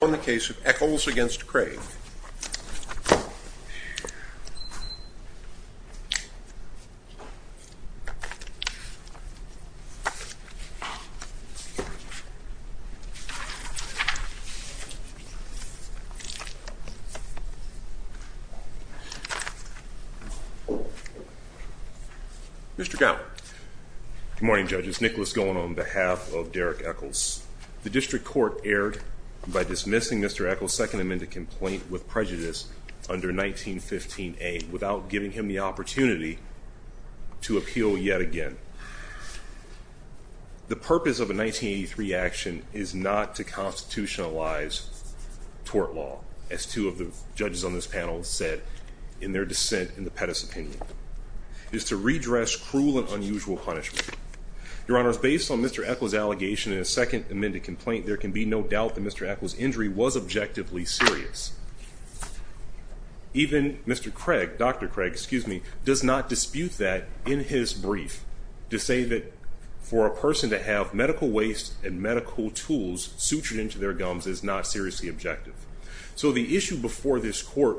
on the case of Echols v. Craig. Mr. Gow. Good morning, judges. Nicholas Gow on behalf of Derrick Echols. The district court erred by dismissing Mr. Echols' second amended complaint with prejudice under 1915A without giving him the opportunity to appeal yet again. The purpose of a 1983 action is not to constitutionalize tort law, as two of the judges on this panel said in their dissent in the Pettus opinion. It is to redress cruel and unusual punishment. Your Honors, based on Mr. Echols' allegation in a second amended complaint, there can be no doubt that Mr. Echols' injury was objectively serious. Even Mr. Craig, Dr. Craig, excuse me, does not dispute that in his brief to say that for a person to have medical waste and medical tools sutured into their gums is not seriously objective. So the issue before this court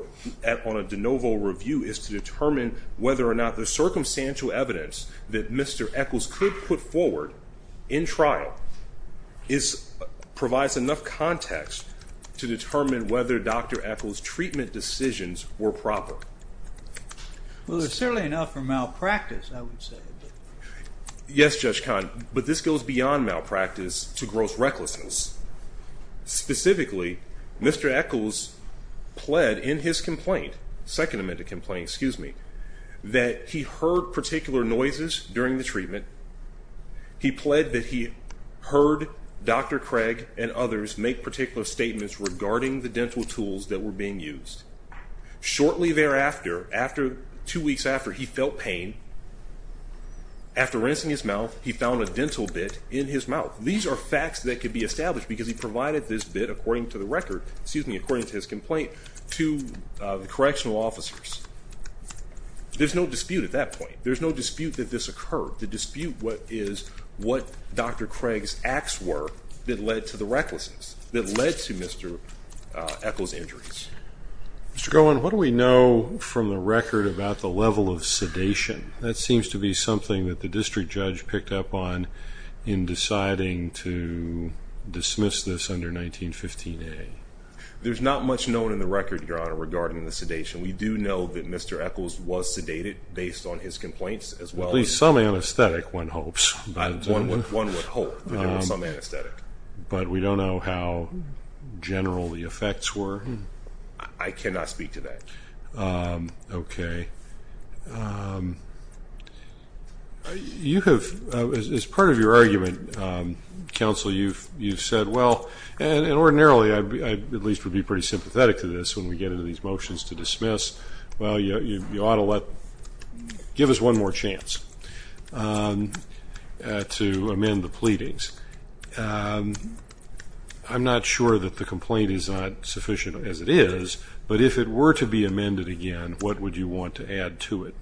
on a de novo review is to determine whether or not the circumstantial evidence that Mr. Echols could put forward in trial provides enough context to determine whether Dr. Echols' treatment decisions were proper. Well, there's certainly enough for malpractice, I would say. Yes, Judge Kahn, but this goes beyond malpractice to gross recklessness. Specifically, Mr. Echols pled in his complaint, second amended complaint, excuse me, that he heard particular noises during the treatment. He pled that he heard Dr. Craig and others make particular statements regarding the dental tools that were being used. Shortly thereafter, two weeks after, he felt pain. After rinsing his mouth, he found a dental bit in his mouth. These are facts that could be established because he provided this bit according to the record, excuse me, according to his complaint to the correctional officers. There's no dispute at that point. There's no dispute that this occurred. The dispute is what Dr. Craig's acts were that led to the recklessness, that led to Mr. Echols' injuries. Mr. Cohen, what do we know from the record about the level of sedation? That seems to be something that the district judge picked up on in deciding to dismiss this under 1915a. There's not much known in the record, Your Honor, regarding the sedation. We do know that Mr. Echols was sedated based on his complaints as well. At least some anesthetic, one hopes. One would hope that there was some anesthetic. But we don't know how general the effects were. I cannot speak to that. OK. You have, as part of your argument, counsel, you've said, well, and ordinarily, I at least would be pretty sympathetic to this when we get into these motions to dismiss. Well, you ought to give us one more chance to amend the pleadings. I'm not sure that the complaint is not sufficient as it is. But if it were to be amended again, what would you want to add to it?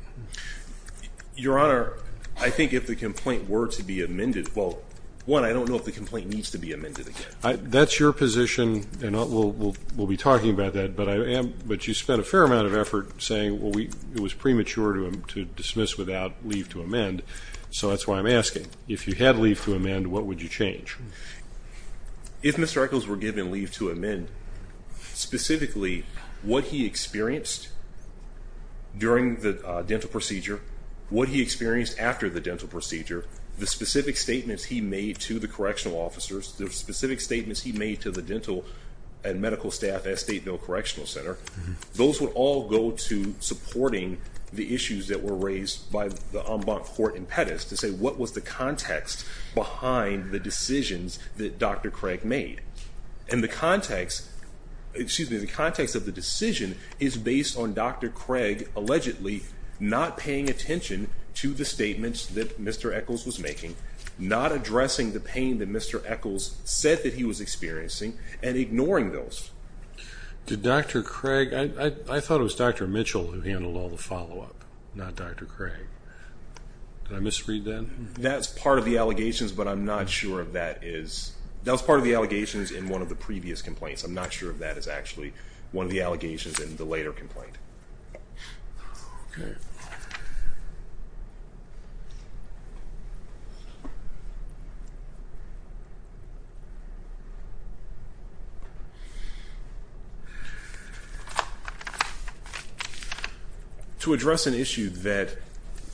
Your Honor, I think if the complaint were to be amended, well, one, I don't know if the complaint needs to be amended again. That's your position. And we'll be talking about that. But you spent a fair amount of effort saying it was premature to dismiss without leave to amend. So that's why I'm asking. If you had leave to amend, what would you change? If Mr. Echols were given leave to amend, specifically what he experienced during the dental procedure, what he experienced after the dental procedure, the specific statements he made to the correctional officers, the specific statements he made to the dental and medical staff at Stateville Correctional Center, those would all go to supporting the issues that were raised by the en banc court in Pettis to say what was the context behind the decisions that Dr. Craig made. And the context of the decision is based on Dr. Craig allegedly not paying attention to the statements that Mr. Echols was making, not addressing the pain that Mr. Echols said that he was experiencing, and ignoring those. Did Dr. Craig, I thought it was Dr. Mitchell who handled all the follow-up, not Dr. Craig. Did I misread that? That's part of the allegations, but I'm not sure that is. That was part of the allegations in one of the previous complaints. I'm not sure if that is actually one of the allegations in the later complaint. OK. To address an issue that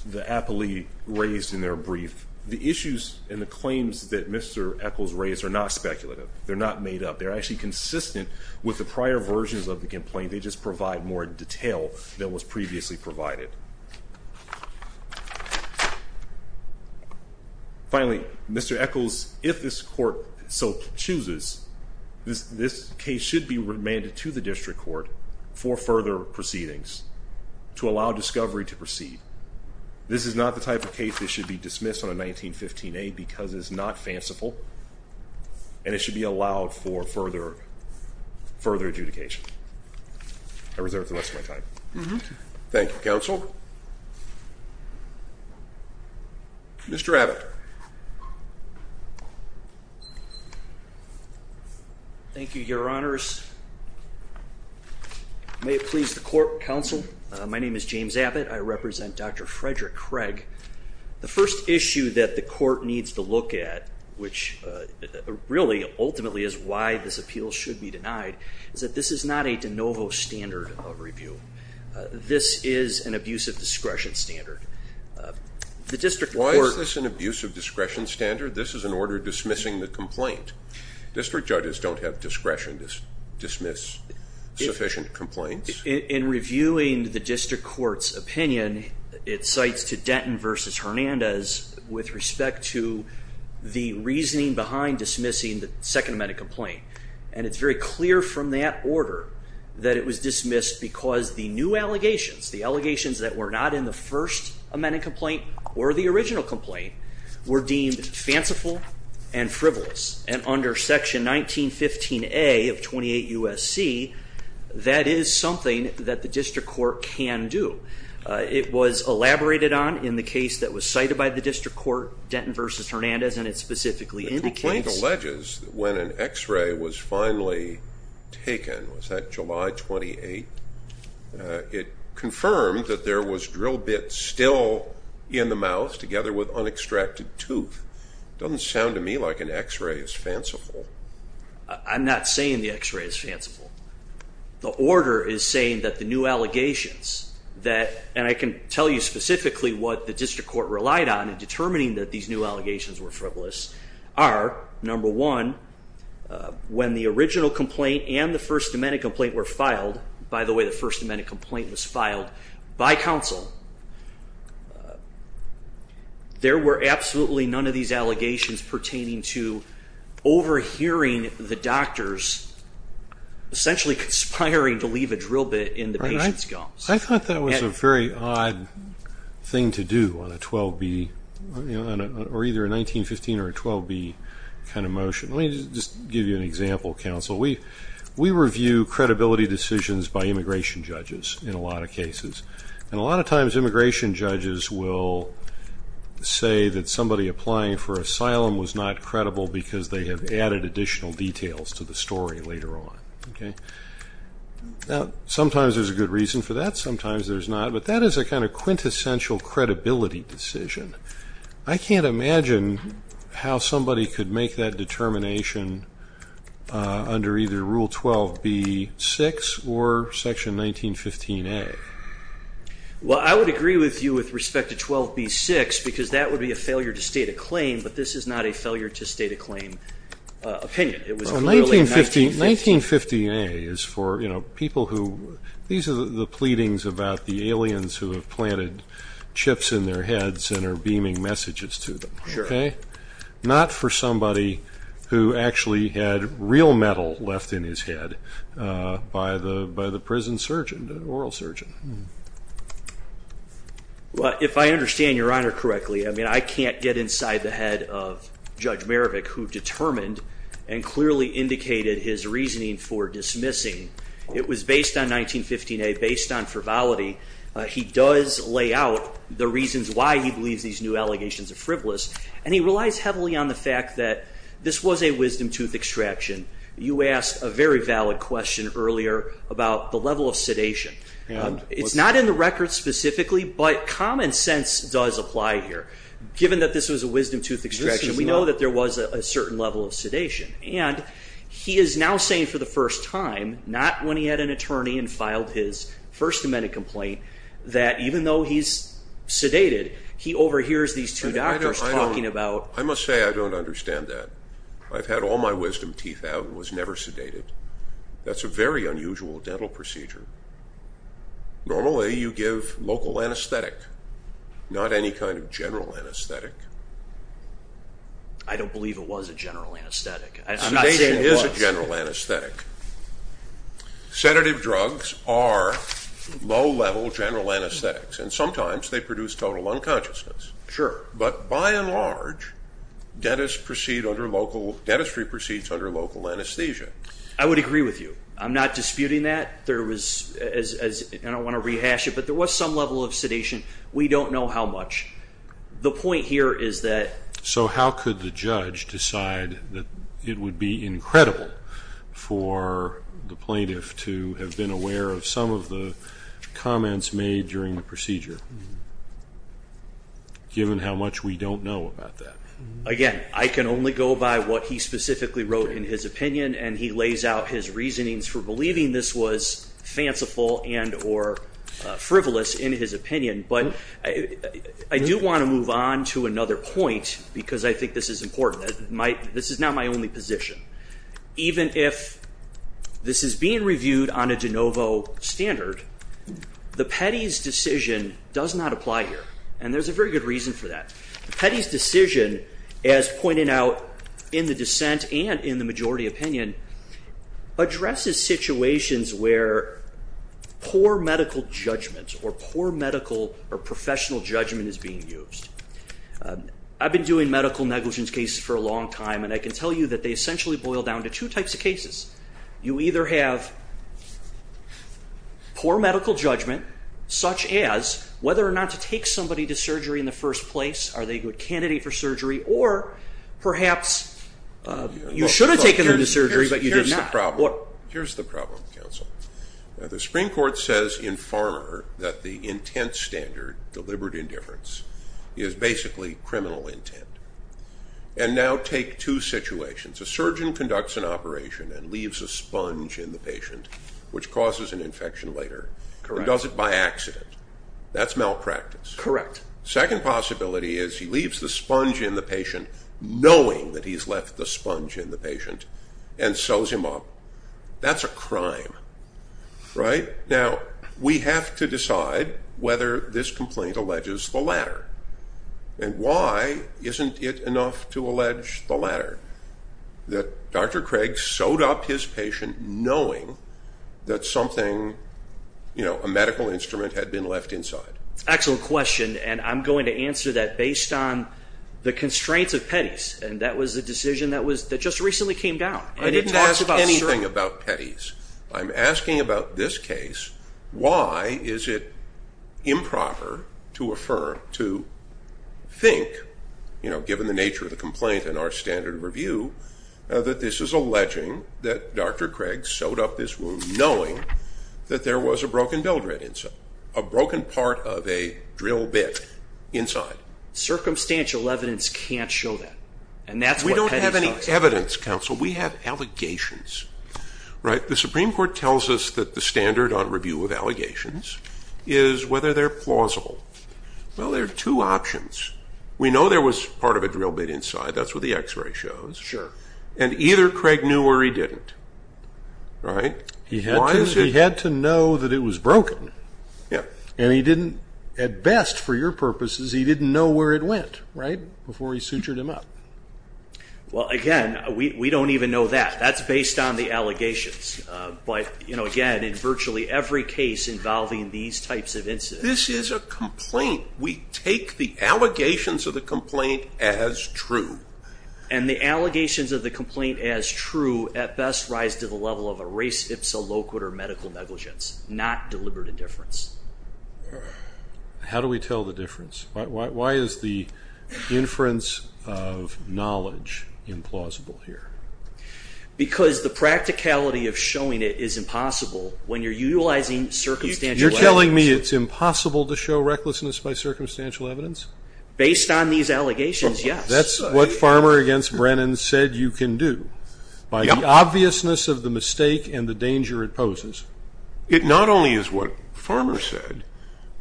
the appellee raised in their brief, the issues and the claims that Mr. Echols raised are not speculative. They're not made up. They're actually consistent with the prior versions of the complaint. They just provide more detail than was previously provided. Finally, Mr. Echols, if this court so chooses, this case should be remanded to the district court for further proceedings to allow discovery to proceed. This is not the type of case that should be dismissed on a 1915A because it is not fanciful, and it should be allowed for further adjudication. I reserve the rest of my time. Thank you, counsel. Mr. Abbott. Thank you, Your Honors. May it please the court, counsel. My name is James Abbott. I represent Dr. Frederick Craig. The first issue that the court needs to look at, which really ultimately is why this appeal should be denied, is that this is not a de novo standard of review. This is an abuse of discretion standard. The district court- Why is this an abuse of discretion standard? This is an order dismissing the complaint. District judges don't have discretion to dismiss sufficient complaints. In reviewing the district court's opinion, it cites to Denton versus Hernandez with respect to the reasoning behind dismissing the second amendment complaint. And it's very clear from that order that it was dismissed because the new allegations, the allegations that were not in the first amendment complaint or the original complaint, were deemed fanciful and frivolous. And under section 1915A of 28 USC, that is something that the district court can do. It was elaborated on in the case that was cited by the district court, Denton versus Hernandez. And it specifically indicates- The complaint alleges that when an x-ray was finally taken, was that July 28? It confirmed that there was drill bits still in the mouth together with unextracted tooth. Doesn't sound to me like an x-ray is fanciful. I'm not saying the x-ray is fanciful. The order is saying that the new allegations that, and I can tell you specifically what the district court relied on in determining that these new allegations were frivolous, are, number one, when the original complaint and the first amendment complaint were filed by the way the first amendment complaint was filed by council, there were absolutely none of these allegations pertaining to overhearing the doctors essentially conspiring to leave a drill bit in the patient's gums. I thought that was a very odd thing to do on a 12B, or either a 1915 or a 12B kind of motion. Let me just give you an example, council. We review credibility decisions by immigration judges in a lot of cases. And a lot of times immigration judges will say that somebody applying for asylum was not credible because they have added additional details to the story later on, okay? Now, sometimes there's a good reason for that, sometimes there's not, but that is a kind of quintessential credibility decision. I can't imagine how somebody could make that determination under either Rule 12B-6 or Section 1915-A. Well, I would agree with you with respect to 12B-6 because that would be a failure to state a claim, but this is not a failure to state a claim opinion. It was clearly 1915. 1915-A is for people who, these are the pleadings about the aliens who have planted chips in their heads and are beaming messages to them, okay? Not for somebody who actually had real metal left in his head by the prison surgeon, an oral surgeon. Well, if I understand Your Honor correctly, I mean, I can't get inside the head of Judge Marovic who determined and clearly indicated his reasoning for dismissing. It was based on 1915-A, based on frivolity. He does lay out the reasons why he believes these new allegations of frivolous, and he relies heavily on the fact that this was a wisdom tooth extraction. You asked a very valid question earlier about the level of sedation. It's not in the record specifically, but common sense does apply here. Given that this was a wisdom tooth extraction, we know that there was a certain level of sedation, and he is now saying for the first time, not when he had an attorney and filed his First Amendment complaint, that even though he's sedated, he overhears these two doctors talking about... I must say I don't understand that. I've had all my wisdom teeth out and was never sedated. That's a very unusual dental procedure. Normally, you give local anesthetic, not any kind of general anesthetic. I don't believe it was a general anesthetic. I'm not saying it was. Sedation is a general anesthetic. Sedative drugs are low-level general anesthetics, and sometimes they produce total unconsciousness. Sure. But by and large, dentistry proceeds under local anesthesia. I would agree with you. I'm not disputing that. I don't want to rehash it, but there was some level of sedation. We don't know how much. The point here is that... So how could the judge decide that it would be incredible for the plaintiff to have been aware of some of the comments made during the procedure, given how much we don't know about that? Again, I can only go by what he specifically wrote in his opinion, and he lays out his reasonings for believing this was fanciful and or frivolous in his opinion. But I do want to move on to another point because I think this is important. This is not my only position. Even if this is being reviewed on a de novo standard, the Petty's decision does not apply here. And there's a very good reason for that. Petty's decision, as pointed out in the dissent and in the majority opinion, addresses situations where poor medical judgment or poor medical or professional judgment is being used. I've been doing medical negligence cases for a long time, and I can tell you that they essentially boil down to two types of cases. You either have poor medical judgment, such as whether or not to take somebody to surgery in the first place, are they a good candidate for surgery, or perhaps you should have taken them to surgery, but you did not. Here's the problem, counsel. The Supreme Court says in Farmer that the intent standard, deliberate indifference, is basically criminal intent. And now take two situations. A surgeon conducts an operation and leaves a sponge in the patient, which causes an infection later. Correct. And does it by accident. That's malpractice. Correct. Second possibility is he leaves the sponge in the patient knowing that he's left the sponge in the patient and sews him up. That's a crime, right? Now, we have to decide whether this complaint alleges the latter. And why isn't it enough to allege the latter? That Dr. Craig sewed up his patient knowing that something, you know, a medical instrument had been left inside. Excellent question. And I'm going to answer that based on the constraints of Pettis. And that was the decision that was, that just recently came down. I didn't ask anything about Pettis. I'm asking about this case. Why is it improper to affirm, to think, you know, given the nature of the complaint in our standard review, that this is alleging that Dr. Craig sewed up this wound knowing that there was a broken dildo inside, a broken part of a drill bit inside. Circumstantial evidence can't show that. And that's what Pettis... We don't have any evidence, counsel. We have allegations, right? The Supreme Court tells us that the standard on review of allegations is whether they're plausible. Well, there are two options. We know there was part of a drill bit inside. That's what the x-ray shows. Sure. And either Craig knew or he didn't, right? He had to know that it was broken. Yeah. And he didn't, at best for your purposes, he didn't know where it went, right? Before he sutured him up. Well, again, we don't even know that. That's based on the allegations. But again, in virtually every case involving these types of incidents... This is a complaint. We take the allegations of the complaint as true. And the allegations of the complaint as true at best rise to the level of a race, ipsa, loquitur, medical negligence, not deliberate indifference. How do we tell the difference? Why is the inference of knowledge implausible here? Because the practicality of showing it is impossible when you're utilizing circumstantial evidence. You're telling me it's impossible to show recklessness by circumstantial evidence? Based on these allegations, yes. That's what Farmer against Brennan said you can do. By the obviousness of the mistake and the danger it poses. It not only is what Farmer said,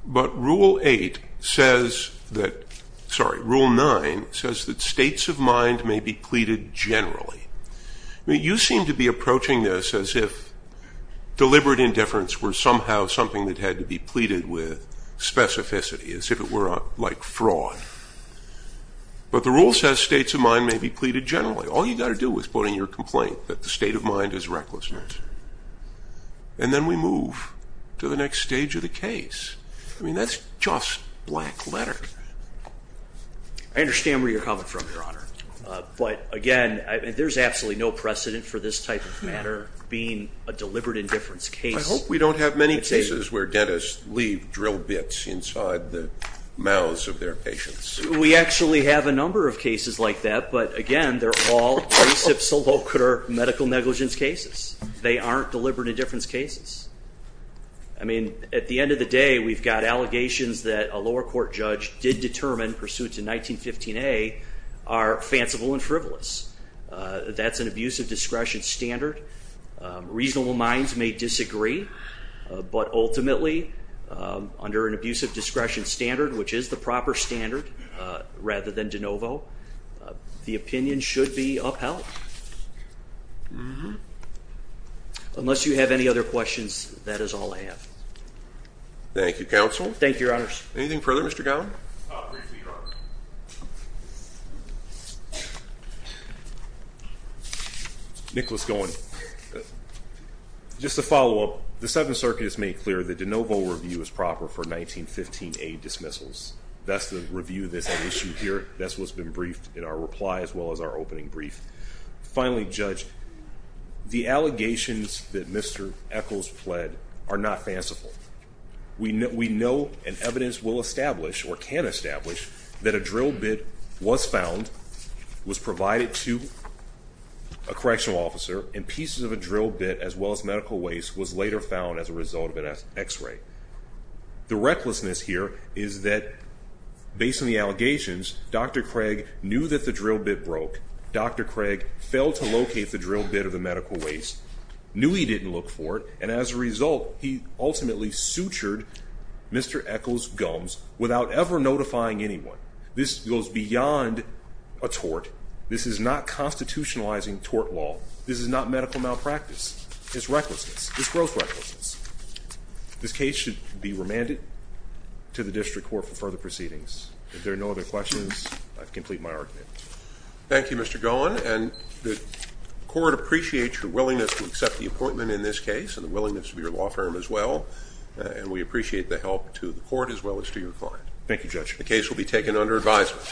but rule eight says that, sorry, rule nine says that states of mind may be pleaded generally. I mean, you seem to be approaching this as if deliberate indifference were somehow something that had to be pleaded with specificity, as if it were like fraud. But the rule says states of mind may be pleaded generally. All you got to do is put in your complaint that the state of mind is recklessness. And then we move to the next stage of the case. I mean, that's just black letter. I understand where you're coming from, Your Honor. But again, there's absolutely no precedent for this type of matter being a deliberate indifference case. I hope we don't have many cases where dentists leave drill bits inside the mouths of their patients. We actually have a number of cases like that. But again, they're all reciprocator medical negligence cases. They aren't deliberate indifference cases. I mean, at the end of the day, we've got allegations that a lower court judge did determine pursuits in 1915A are fanciful and frivolous. That's an abuse of discretion standard. Reasonable minds may disagree, but ultimately, under an abuse of discretion standard, which is the proper standard, rather than de novo, the opinion should be upheld. Unless you have any other questions, that is all I have. Thank you, Counsel. Thank you, Your Honors. Anything further, Mr. Gowen? I'll brief you, Your Honor. Nicholas Gowen. Just to follow up, the Seventh Circuit has made clear the de novo review is proper for 1915A dismissals. That's the review that's at issue here. That's what's been briefed in our reply as well as our opening brief. Finally, Judge, the allegations that Mr. Eccles pled are not fanciful. We know and evidence will establish, or can establish, that a drill bit was found, was provided to a correctional officer, and pieces of a drill bit, as well as medical waste, was later found as a result of an X-ray. The recklessness here is that, based on the allegations, Dr. Craig knew that the drill bit broke. Dr. Craig failed to locate the drill bit of the medical waste, knew he didn't look for it, and as a result, he ultimately sutured Mr. Eccles' gums without ever notifying anyone. This goes beyond a tort. This is not constitutionalizing tort law. This is not medical malpractice. It's recklessness. It's gross recklessness. This case should be remanded to the district court for further proceedings. If there are no other questions, I complete my argument. Thank you, Mr. Gowen, and the court appreciates your willingness to accept the appointment in this case and the willingness of your law firm as well, and we appreciate the help to the court as well as to your client. Thank you, Judge. The case will be taken under advisement.